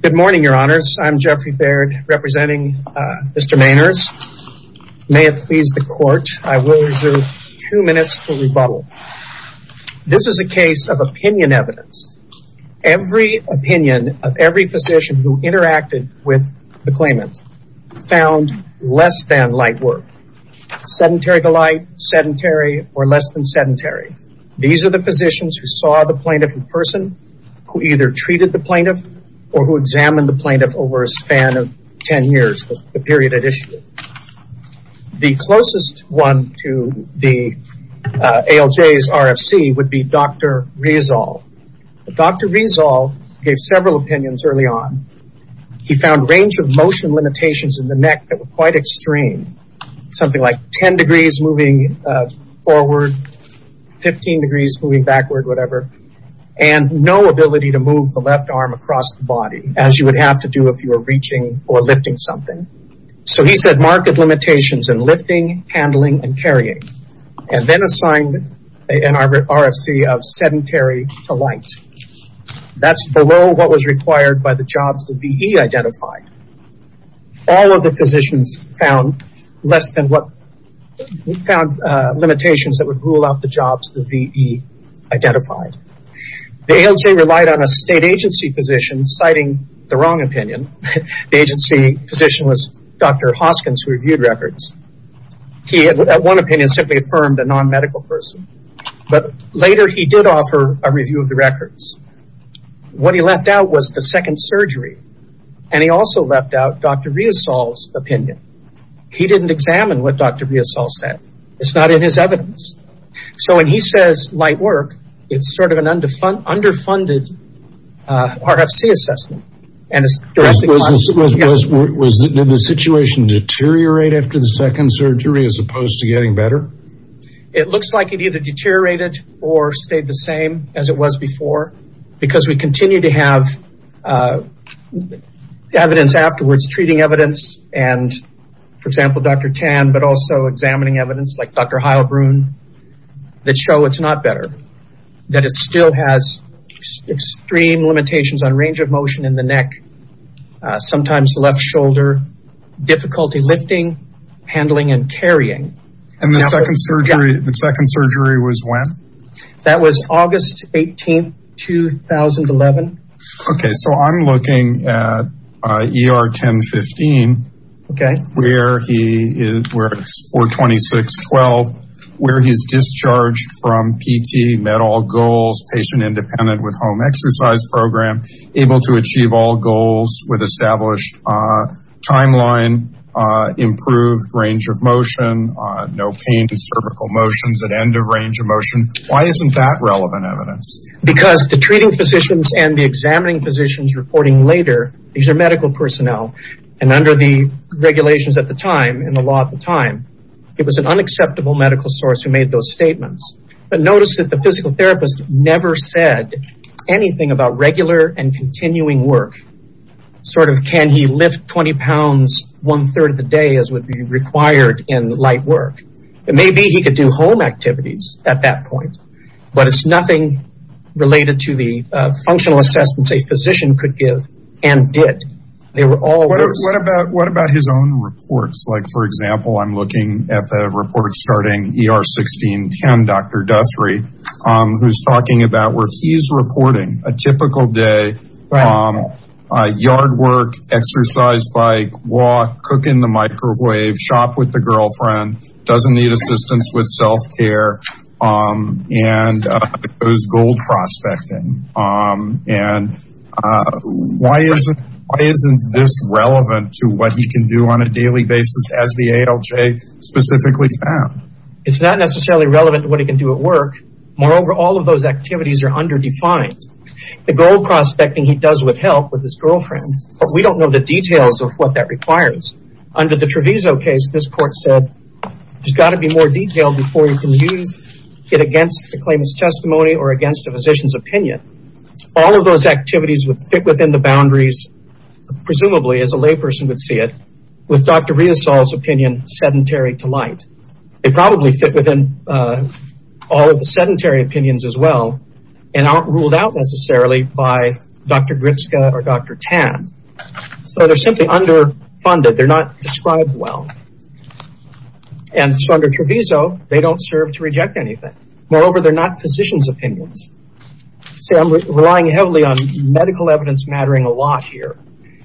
Good morning, your honors. I'm Jeffrey Baird representing Mr. Maners. May it please the court I will reserve two minutes for rebuttal. This is a case of opinion evidence. Every opinion of every physician who interacted with the claimant found less than light work. Sedentary to light, sedentary, or less than sedentary. These are the physicians who saw the plaintiff in person, who either treated the plaintiff or who examined the plaintiff over a span of ten years, the period at issue. The closest one to the ALJ's RFC would be Dr. Rezal. Dr. Rezal gave several opinions early on. He found range of motion limitations in the neck that were quite extreme. Something like 10 degrees moving forward, 15 degrees moving backward, whatever. And no ability to move the left arm across the body as you would have to do if you were reaching or lifting something. So he said marked limitations in lifting, handling, and carrying. And then assigned an RFC of sedentary to light. That's below what was required by the jobs the VE identified. All of the physicians found less than what found limitations that would rule out the jobs the VE identified. The ALJ relied on a state agency physician, citing the wrong opinion. The agency physician was Dr. Hoskins, who reviewed records. He, at one opinion, simply affirmed a non-medical person. But later he did offer a review of the records. What he left out was the second surgery. And he also left out Dr. Rezal's opinion. He didn't examine what Dr. Rezal said. It's not in his evidence. So when he says light work, it's sort of an underfunded RFC assessment. Was the situation deteriorate after the second surgery as opposed to getting better? It looks like it either deteriorated or stayed the same as it was before. Because we continue to have evidence afterwards, treating evidence and, for example, Dr. Tan, but also examining evidence like Dr. Heilbrun, that show it's not better. That it still has extreme limitations on range of motion in the neck, sometimes left shoulder, difficulty lifting, handling, and carrying. And the second surgery was when? That was August 18, 2011. Okay, so I'm looking at ER 1015, or 2612, where he's discharged from PT, met all goals, patient independent with home exercise program, able to achieve all goals with established timeline, improved range of motion, no pain to cervical motions, and end of range of motion. Why isn't that relevant evidence? Because the treating physicians and the examining physicians reporting later, these are medical personnel, and under the regulations at the time, in the law at the time, it was an unacceptable medical source who made those statements. But notice that the physical therapist never said anything about regular and continuing work. Sort of, can he lift 20 pounds one-third of the day as would be home activities at that point. But it's nothing related to the functional assessments a physician could give, and did. They were all... What about his own reports? Like, for example, I'm looking at the reports starting ER 1610, Dr. Duthry, who's talking about where he's reporting a typical day, yard work, exercise, bike, walk, cook in the microwave, shop with the healthcare, and those gold prospecting. And why isn't this relevant to what he can do on a daily basis as the ALJ specifically found? It's not necessarily relevant to what he can do at work. Moreover, all of those activities are underdefined. The gold prospecting he does with help with his girlfriend, but we don't know the details of what that requires. Under the Treviso case, this court said, there's got to be more detail before you can use it against the claimant's testimony or against the physician's opinion. All of those activities would fit within the boundaries, presumably as a layperson would see it, with Dr. Riasol's opinion sedentary to light. They probably fit within all of the sedentary opinions as well, and aren't ruled out necessarily by Dr. Gritska or Dr. Tan. So they're simply underfunded. They're not described well. And so under Treviso, they don't serve to reject anything. Moreover, they're not physicians' opinions. See, I'm relying heavily on medical evidence mattering a lot here.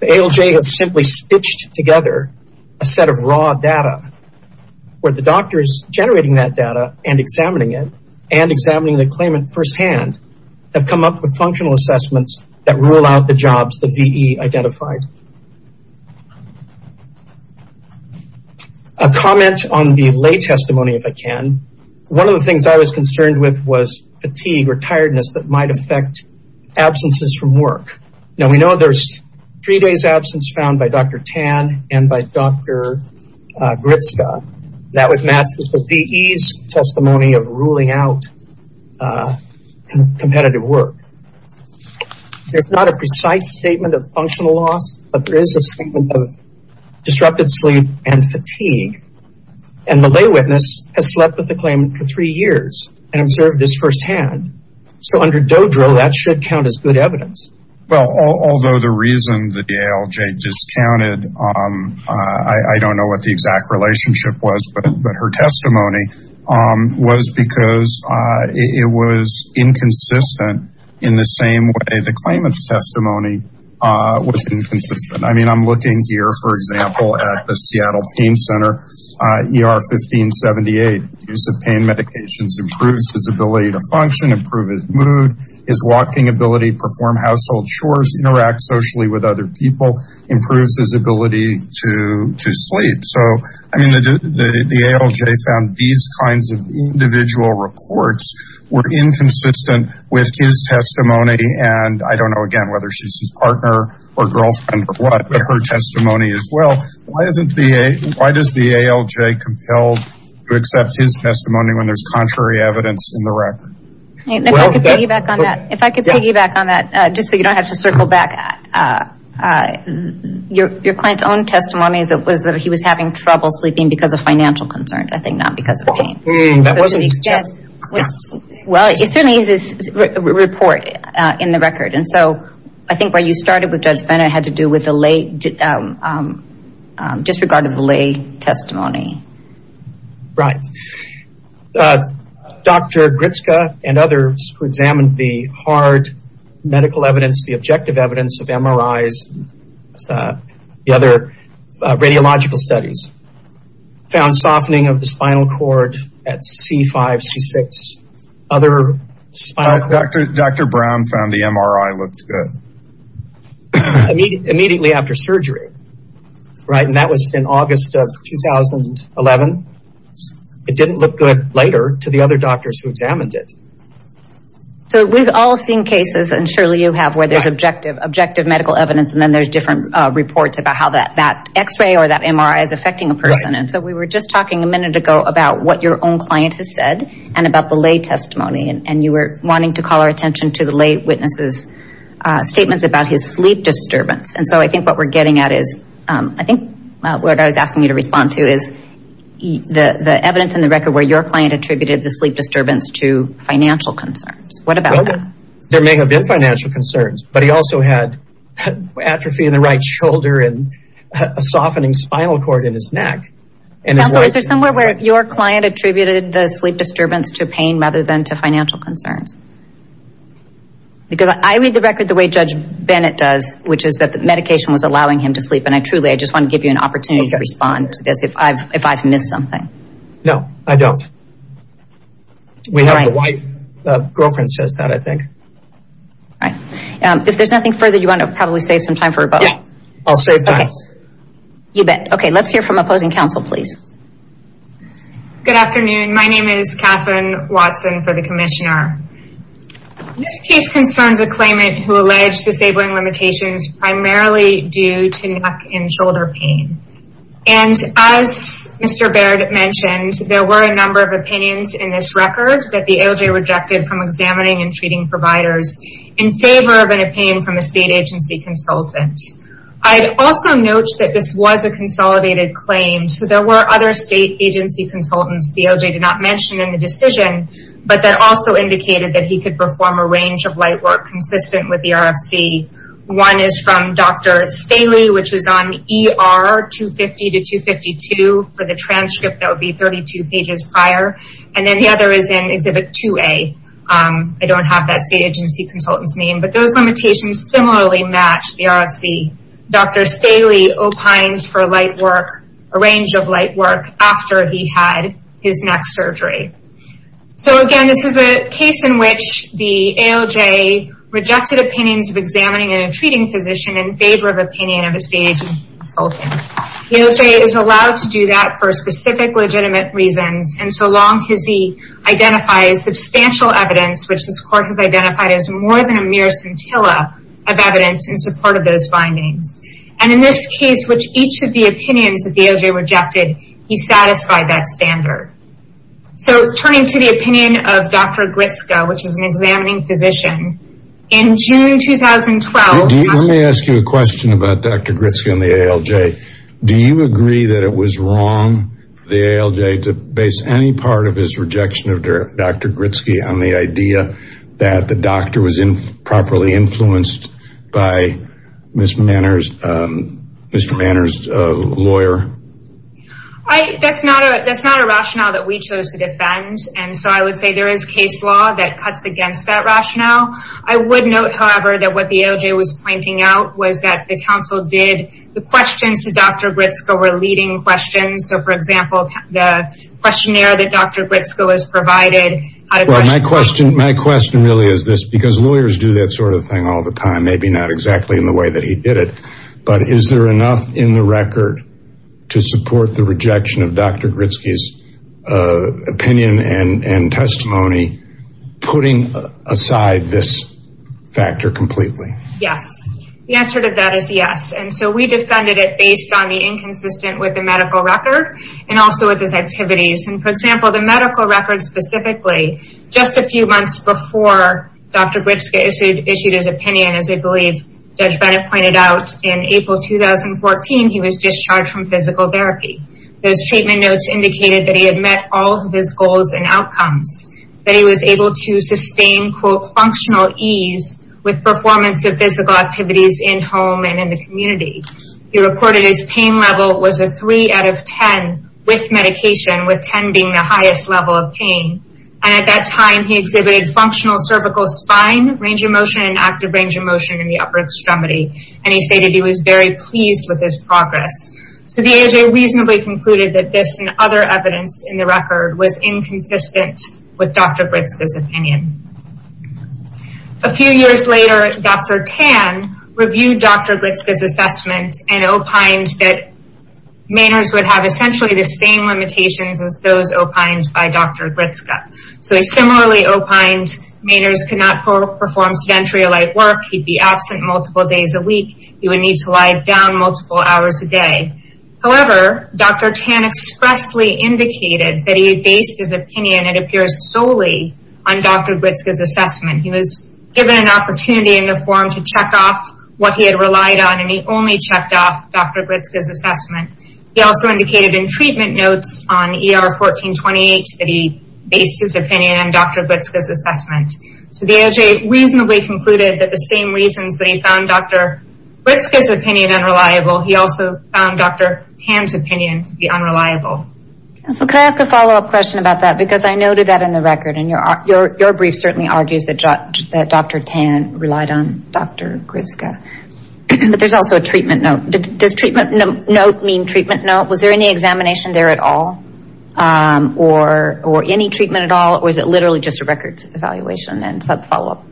The ALJ has simply stitched together a set of raw data where the doctors generating that data and examining it and examining the claimant firsthand have come up with functional assessments that rule out the jobs the claimant has. A comment on the lay testimony, if I can. One of the things I was concerned with was fatigue or tiredness that might affect absences from work. Now, we know there's three days' absence found by Dr. Tan and by Dr. Gritska. That would match with the VE's testimony of ruling out competitive work. There's not a precise statement of functional loss, but there is a statement of disrupted sleep and fatigue. And the lay witness has slept with the claimant for three years and observed this firsthand. So under Dodro, that should count as good evidence. Well, although the reason that the ALJ discounted, I don't know what the exact relationship was, but her testimony was because it was inconsistent in the same way the claimant's testimony was inconsistent. I mean, I'm looking here, for example, at the Seattle Pain Center, ER 1578. Use of pain medications improves his ability to function, improve his mood, his walking ability, perform household chores, interact socially with other people, improves his ability to sleep. So, I mean, the ALJ found these kinds of individual reports were inconsistent with his testimony. And I don't know, again, whether she's his partner or girlfriend or what, but her testimony as well. Why does the ALJ compel to accept his testimony when there's contrary evidence in the record? If I could piggyback on that, just so you don't have to circle back, your client's own testimony was that he was having trouble sleeping because of Well, it certainly is a report in the record. And so I think where you started with Judge Bennett had to do with the lay, disregard of the lay testimony. Right. Dr. Gritska and others who examined the hard medical evidence, the objective evidence of MRIs, the other radiological studies, found softening of the spinal cord at C5, C6, other spinal cord. Dr. Brown found the MRI looked good. Immediately after surgery. Right. And that was in August of 2011. It didn't look good later to the other doctors who examined it. So we've all seen cases, and surely you have, where there's objective medical evidence and then there's different reports about how that x-ray or that MRI is affecting a about what your own client has said and about the lay testimony. And you were wanting to call our attention to the lay witness's statements about his sleep disturbance. And so I think what we're getting at is, I think what I was asking you to respond to is the evidence in the record where your client attributed the sleep disturbance to financial concerns. What about that? There may have been financial concerns, but he also had atrophy in the right shoulder and a softening spinal cord in his neck. Counsel, is there somewhere where your client attributed the sleep disturbance to pain rather than to financial concerns? Because I read the record the way Judge Bennett does, which is that the medication was allowing him to sleep. And I truly, I just want to give you an opportunity to respond to this if I've, if I've missed something. No, I don't. We have the wife, girlfriend says that, I think. Right. If there's nothing further, you want to probably save some time for us. You bet. Okay, let's hear from opposing counsel, please. Good afternoon. My name is Catherine Watson for the commissioner. This case concerns a claimant who alleged disabling limitations primarily due to neck and shoulder pain. And as Mr. Baird mentioned, there were a number of opinions in this record that the ALJ rejected from examining and treating providers in favor of an opinion from a state agency consultant. I'd also note that this was a consolidated claim. So there were other state agency consultants the ALJ did not mention in the decision, but that also indicated that he could perform a range of light work consistent with the RFC. One is from Dr. Staley, which was on ER 250 to 252 for the transcript that would be agency consultants name. But those limitations similarly match the RFC. Dr. Staley opined for light work, a range of light work after he had his neck surgery. So again, this is a case in which the ALJ rejected opinions of examining a treating physician in favor of opinion of a state agency consultant. The ALJ is allowed to do that for specific legitimate reasons. And so long as he identifies substantial evidence, which this court has identified as more than a mere scintilla of evidence in support of those findings. And in this case, which each of the opinions that the ALJ rejected, he satisfied that standard. So turning to the opinion of Dr. Gritsko, which is an examining physician, in June 2012, Let me ask you a question about Dr. Gritsko and the ALJ. Do you agree that it was wrong for the ALJ to base any part of his rejection of Dr. Gritsky on the idea that the doctor was improperly influenced by Mr. Manor's lawyer? I that's not a that's not a rationale that we chose to defend. And so I would say there is case law that cuts against that rationale. I would note, however, that what the ALJ was pointing out was that the council did the questions to Dr. Gritsko were leading questions. So, for example, the questionnaire that Dr. Gritsko has provided. My question really is this because lawyers do that sort of thing all the time, maybe not exactly in the way that he did it. But is there enough in the record to support the rejection of Dr. Gritsky's opinion and testimony, putting aside this factor completely? Yes, the answer to that is yes. And so we defended it based on the inconsistent with the medical record and also with his activities. And for example, the medical records specifically, just a few months before Dr. Gritsky issued his opinion, as I believe Judge Bennett pointed out, in April 2014, he was discharged from physical therapy. Those treatment notes indicated that he had met all of his goals and outcomes, that he was able to physical activities in home and in the community. He reported his pain level was a three out of ten with medication, with ten being the highest level of pain. And at that time, he exhibited functional cervical spine, range of motion, and active range of motion in the upper extremity. And he stated he was very pleased with his progress. So the ALJ reasonably concluded that this and other evidence in the record was inconsistent with Dr. Gritsko's opinion. A few years later, Dr. Tan reviewed Dr. Gritsko's assessment and opined that Mainers would have essentially the same limitations as those opined by Dr. Gritsko. So he similarly opined Mainers could not perform sedentary or light work. He'd be absent multiple days a week. He would need to lie down multiple hours a day. However, Dr. Tan expressly indicated that he based his opinion, it appears solely on Dr. Gritsko's assessment. He was given an opportunity in the forum to check off what he had relied on, and he only checked off Dr. Gritsko's assessment. He also indicated in treatment notes on ER 1428 that he based his opinion on Dr. Gritsko's assessment. So the ALJ reasonably concluded that the same reasons that he found Dr. Gritsko's opinion unreliable, he also found Dr. Tan's opinion to be unreliable. So can I ask a follow-up question about that? Because I noted that in the record, and your brief certainly argues that Dr. Tan relied on Dr. Gritsko. But there's also a treatment note. Does treatment note mean treatment note? Was there any examination there at all? Or any treatment at all? Or is it literally just a records evaluation and sub-follow-up?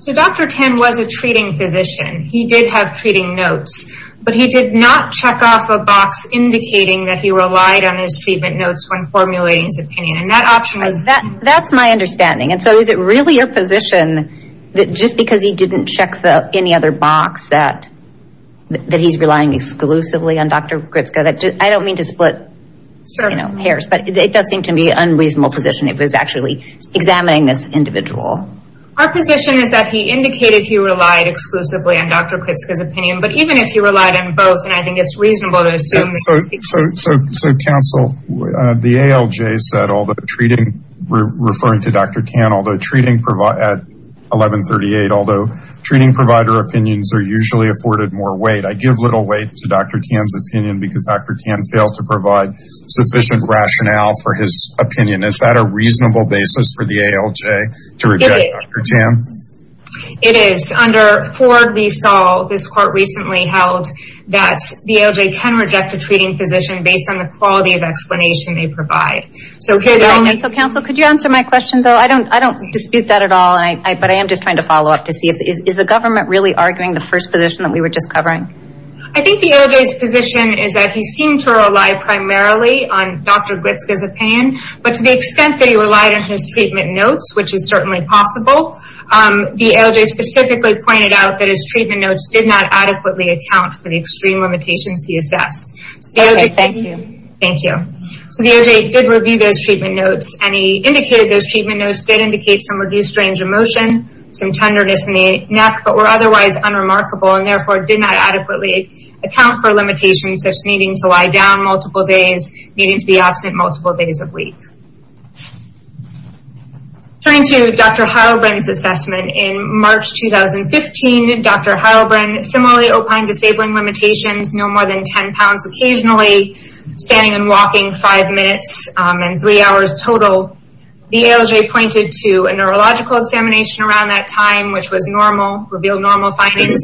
So Dr. Tan was a treating physician. He did have treating notes, but he did not check off a box indicating that he relied on his treatment notes when formulating his opinion. And that option was... That's my understanding. And so is it really your position that just because he didn't check any other box that he's relying exclusively on Dr. Gritsko? I don't mean to split hairs, but it does seem to be an unreasonable position if he's actually examining this individual. Our position is that he indicated he relied exclusively on Dr. Gritsko's opinion. But even if he relied on both, I think it's reasonable to assume... So counsel, the ALJ said, referring to Dr. Tan, although treating provider at 1138, although treating provider opinions are usually afforded more weight, I give little weight to Dr. Tan's opinion because Dr. Tan failed to provide sufficient rationale for his opinion. Is that a reasonable basis for the ALJ to reject a treating physician based on the quality of explanation they provide? So counsel, could you answer my question, though? I don't dispute that at all, but I am just trying to follow up to see. Is the government really arguing the first position that we were just covering? I think the ALJ's position is that he seemed to rely primarily on Dr. Gritsko's opinion, but to the extent that he relied on his treatment notes, which is certainly possible, the ALJ specifically pointed out that his treatment notes did not adequately account for the extreme limitations he assessed. Thank you. So the ALJ did review those treatment notes, and he indicated those treatment notes did indicate some reduced range of motion, some tenderness in the neck, but were otherwise unremarkable, and therefore did not adequately account for limitations such as needing to lie down multiple days, needing to be absent multiple days of the week. Turning to Dr. Heilbrin's assessment, in March 2015, Dr. Heilbrin similarly opined disabling limitations, no more than 10 pounds occasionally, standing and walking five minutes and three hours total. The ALJ pointed to a neurological examination around that time, which was normal, revealed normal findings,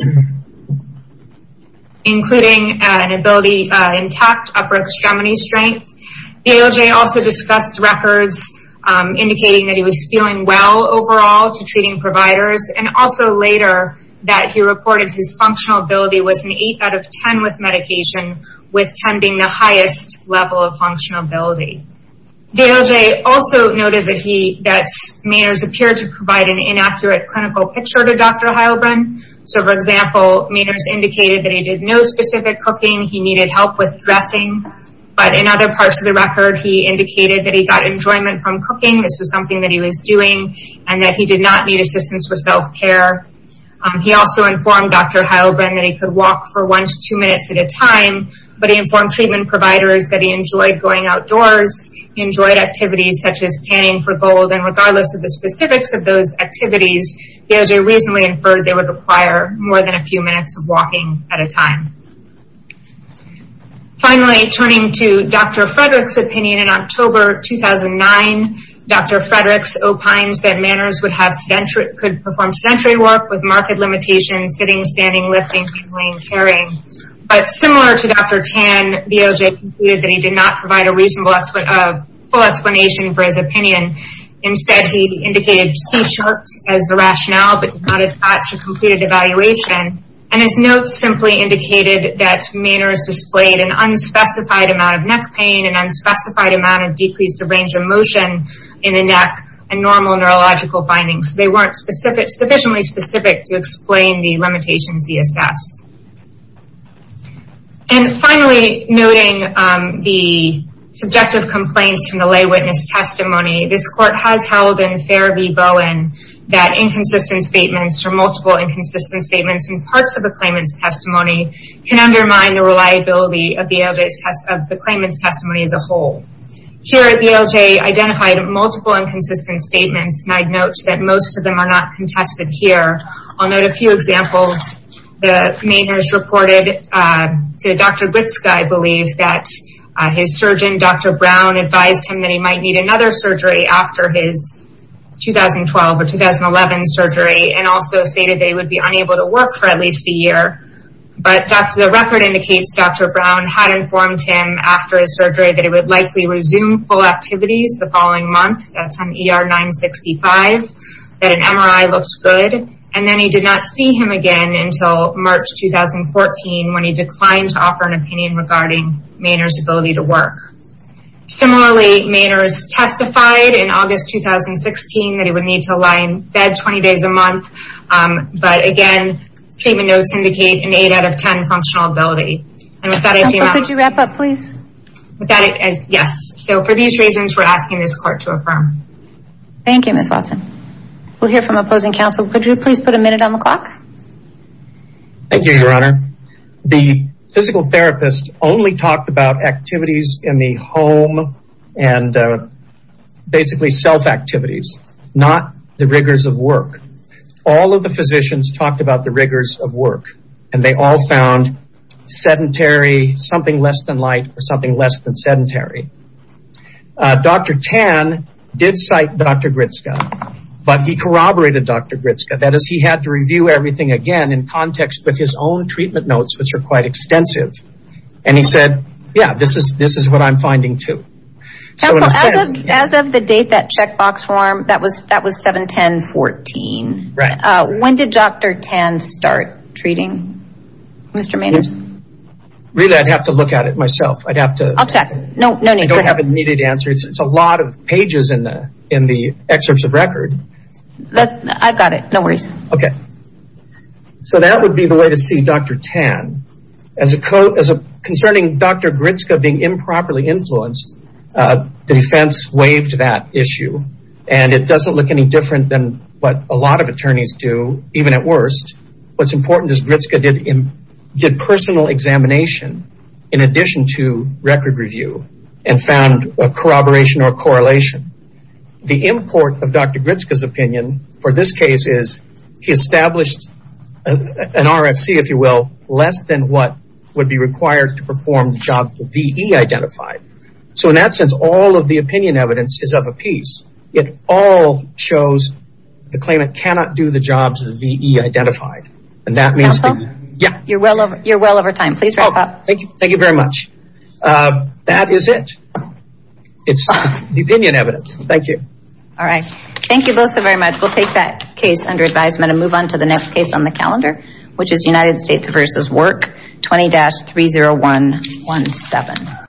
including an ability intact, upper extremity strength. The ALJ also discussed records indicating that he was feeling well overall to treating providers, and also later that he reported his functional ability was an 8 out of 10 with medication, with 10 being the highest level of functional ability. The ALJ also noted that Maynard's appeared to provide an inaccurate clinical picture to Dr. Heilbrin, so for example, Maynard's indicated that he did no specific cooking, he needed help with dressing, but in other parts of the record, he indicated that he got enjoyment from cooking, this was something that he was doing, and that he did not need assistance with self-care. He also informed Dr. Heilbrin that he could walk for one to two minutes at a time, but he informed treatment providers that he enjoyed going outdoors, enjoyed activities such as canning for gold, and regardless of the specifics of those activities, the ALJ reasonably inferred they would require more than a few minutes of walking at a time. Finally, turning to Dr. Frederick's opinion, in October 2009, Dr. Frederick's opines that Maynard's could perform sedentary work with marked limitations, sitting, standing, lifting, cradling, carrying, but similar to Dr. Tan, the ALJ concluded that he did not provide a reasonable explanation for his opinion. Instead, he indicated C-charts as the rationale, but did not attach a completed evaluation, and his notes simply indicated that Maynard's displayed an unspecified amount of neck pain, an unspecified amount of decreased range of motion in the neck, and normal neurological findings. They weren't sufficiently specific to explain the limitations he assessed. And finally, noting the subjective complaints from the lay witness testimony, this court has held in Fair v. Bowen that inconsistent statements or multiple inconsistent statements in parts of the claimant's testimony can undermine the reliability of the claimant's testimony as a whole. Here, the ALJ identified multiple inconsistent statements, and I'd note that most of them are not contested here. I'll note a few examples. The Maynard's reported to Dr. Glitzke, I believe, that his surgeon, Dr. Brown, advised him that he might need another surgery after his 2012 or 2011 surgery, and also stated that he would be unable to work for at least a year. But the record indicates Dr. Brown had informed him after his surgery that he would likely resume full activities the following month, that's on ER 965, that an MRI looked good, and then he did not see him again until March 2014 when he declined to offer an opinion regarding Maynard's ability to work. Similarly, Maynard's testified in August 2016 that he would need to lie in bed 20 days a month, but again, treatment notes indicate an 8 out of 10 functional ability. Counsel, could you wrap up please? Yes, so for these reasons, we're asking this court to affirm. Thank you, Ms. Watson. We'll hear from opposing counsel. Could you please put a minute on the clock? Thank you, Your Honor. The physical therapist only talked about activities in the home and basically self-activities, not the rigors of work. All of the physicians talked about the rigors of work, and they all found sedentary, something less than light, or something less than sedentary. Dr. Tan did cite Dr. Gritska, but he corroborated Dr. Gritska. That is, he had to review everything again in context with his own treatment notes, which are quite extensive, and he said, yeah, this is what I'm finding too. Counsel, as of the date that checkbox form, that was 7-10-14. Right. When did Dr. Tan start treating Mr. Maynard? Really, I'd have to look at it myself. I'd have to... I'll check. I don't have an immediate answer. It's a lot of pages in the excerpts of record. I've got it. No worries. Okay. So that would be the way to see Dr. Tan. Concerning Dr. Gritska being improperly influenced, the defense waived that issue, and it doesn't look any different than what a lot of attorneys do, even at worst. What's important is Gritska did personal examination in addition to record review and found corroboration or correlation. The import of Dr. Gritska's opinion for this case is he established an RFC, if you will, less than what would be required to perform the job that the VE identified. So in that sense, all of the opinion evidence is of a piece. It all shows the claimant cannot do the jobs that the VE identified. Counsel? Yeah. You're well over time. Please wrap up. Thank you very much. That is it. It's the opinion evidence. Thank you. All right. Thank you both so very much. We'll take that case under advisement and move on to the next case on the calendar, which is United States v. Work 20-30117.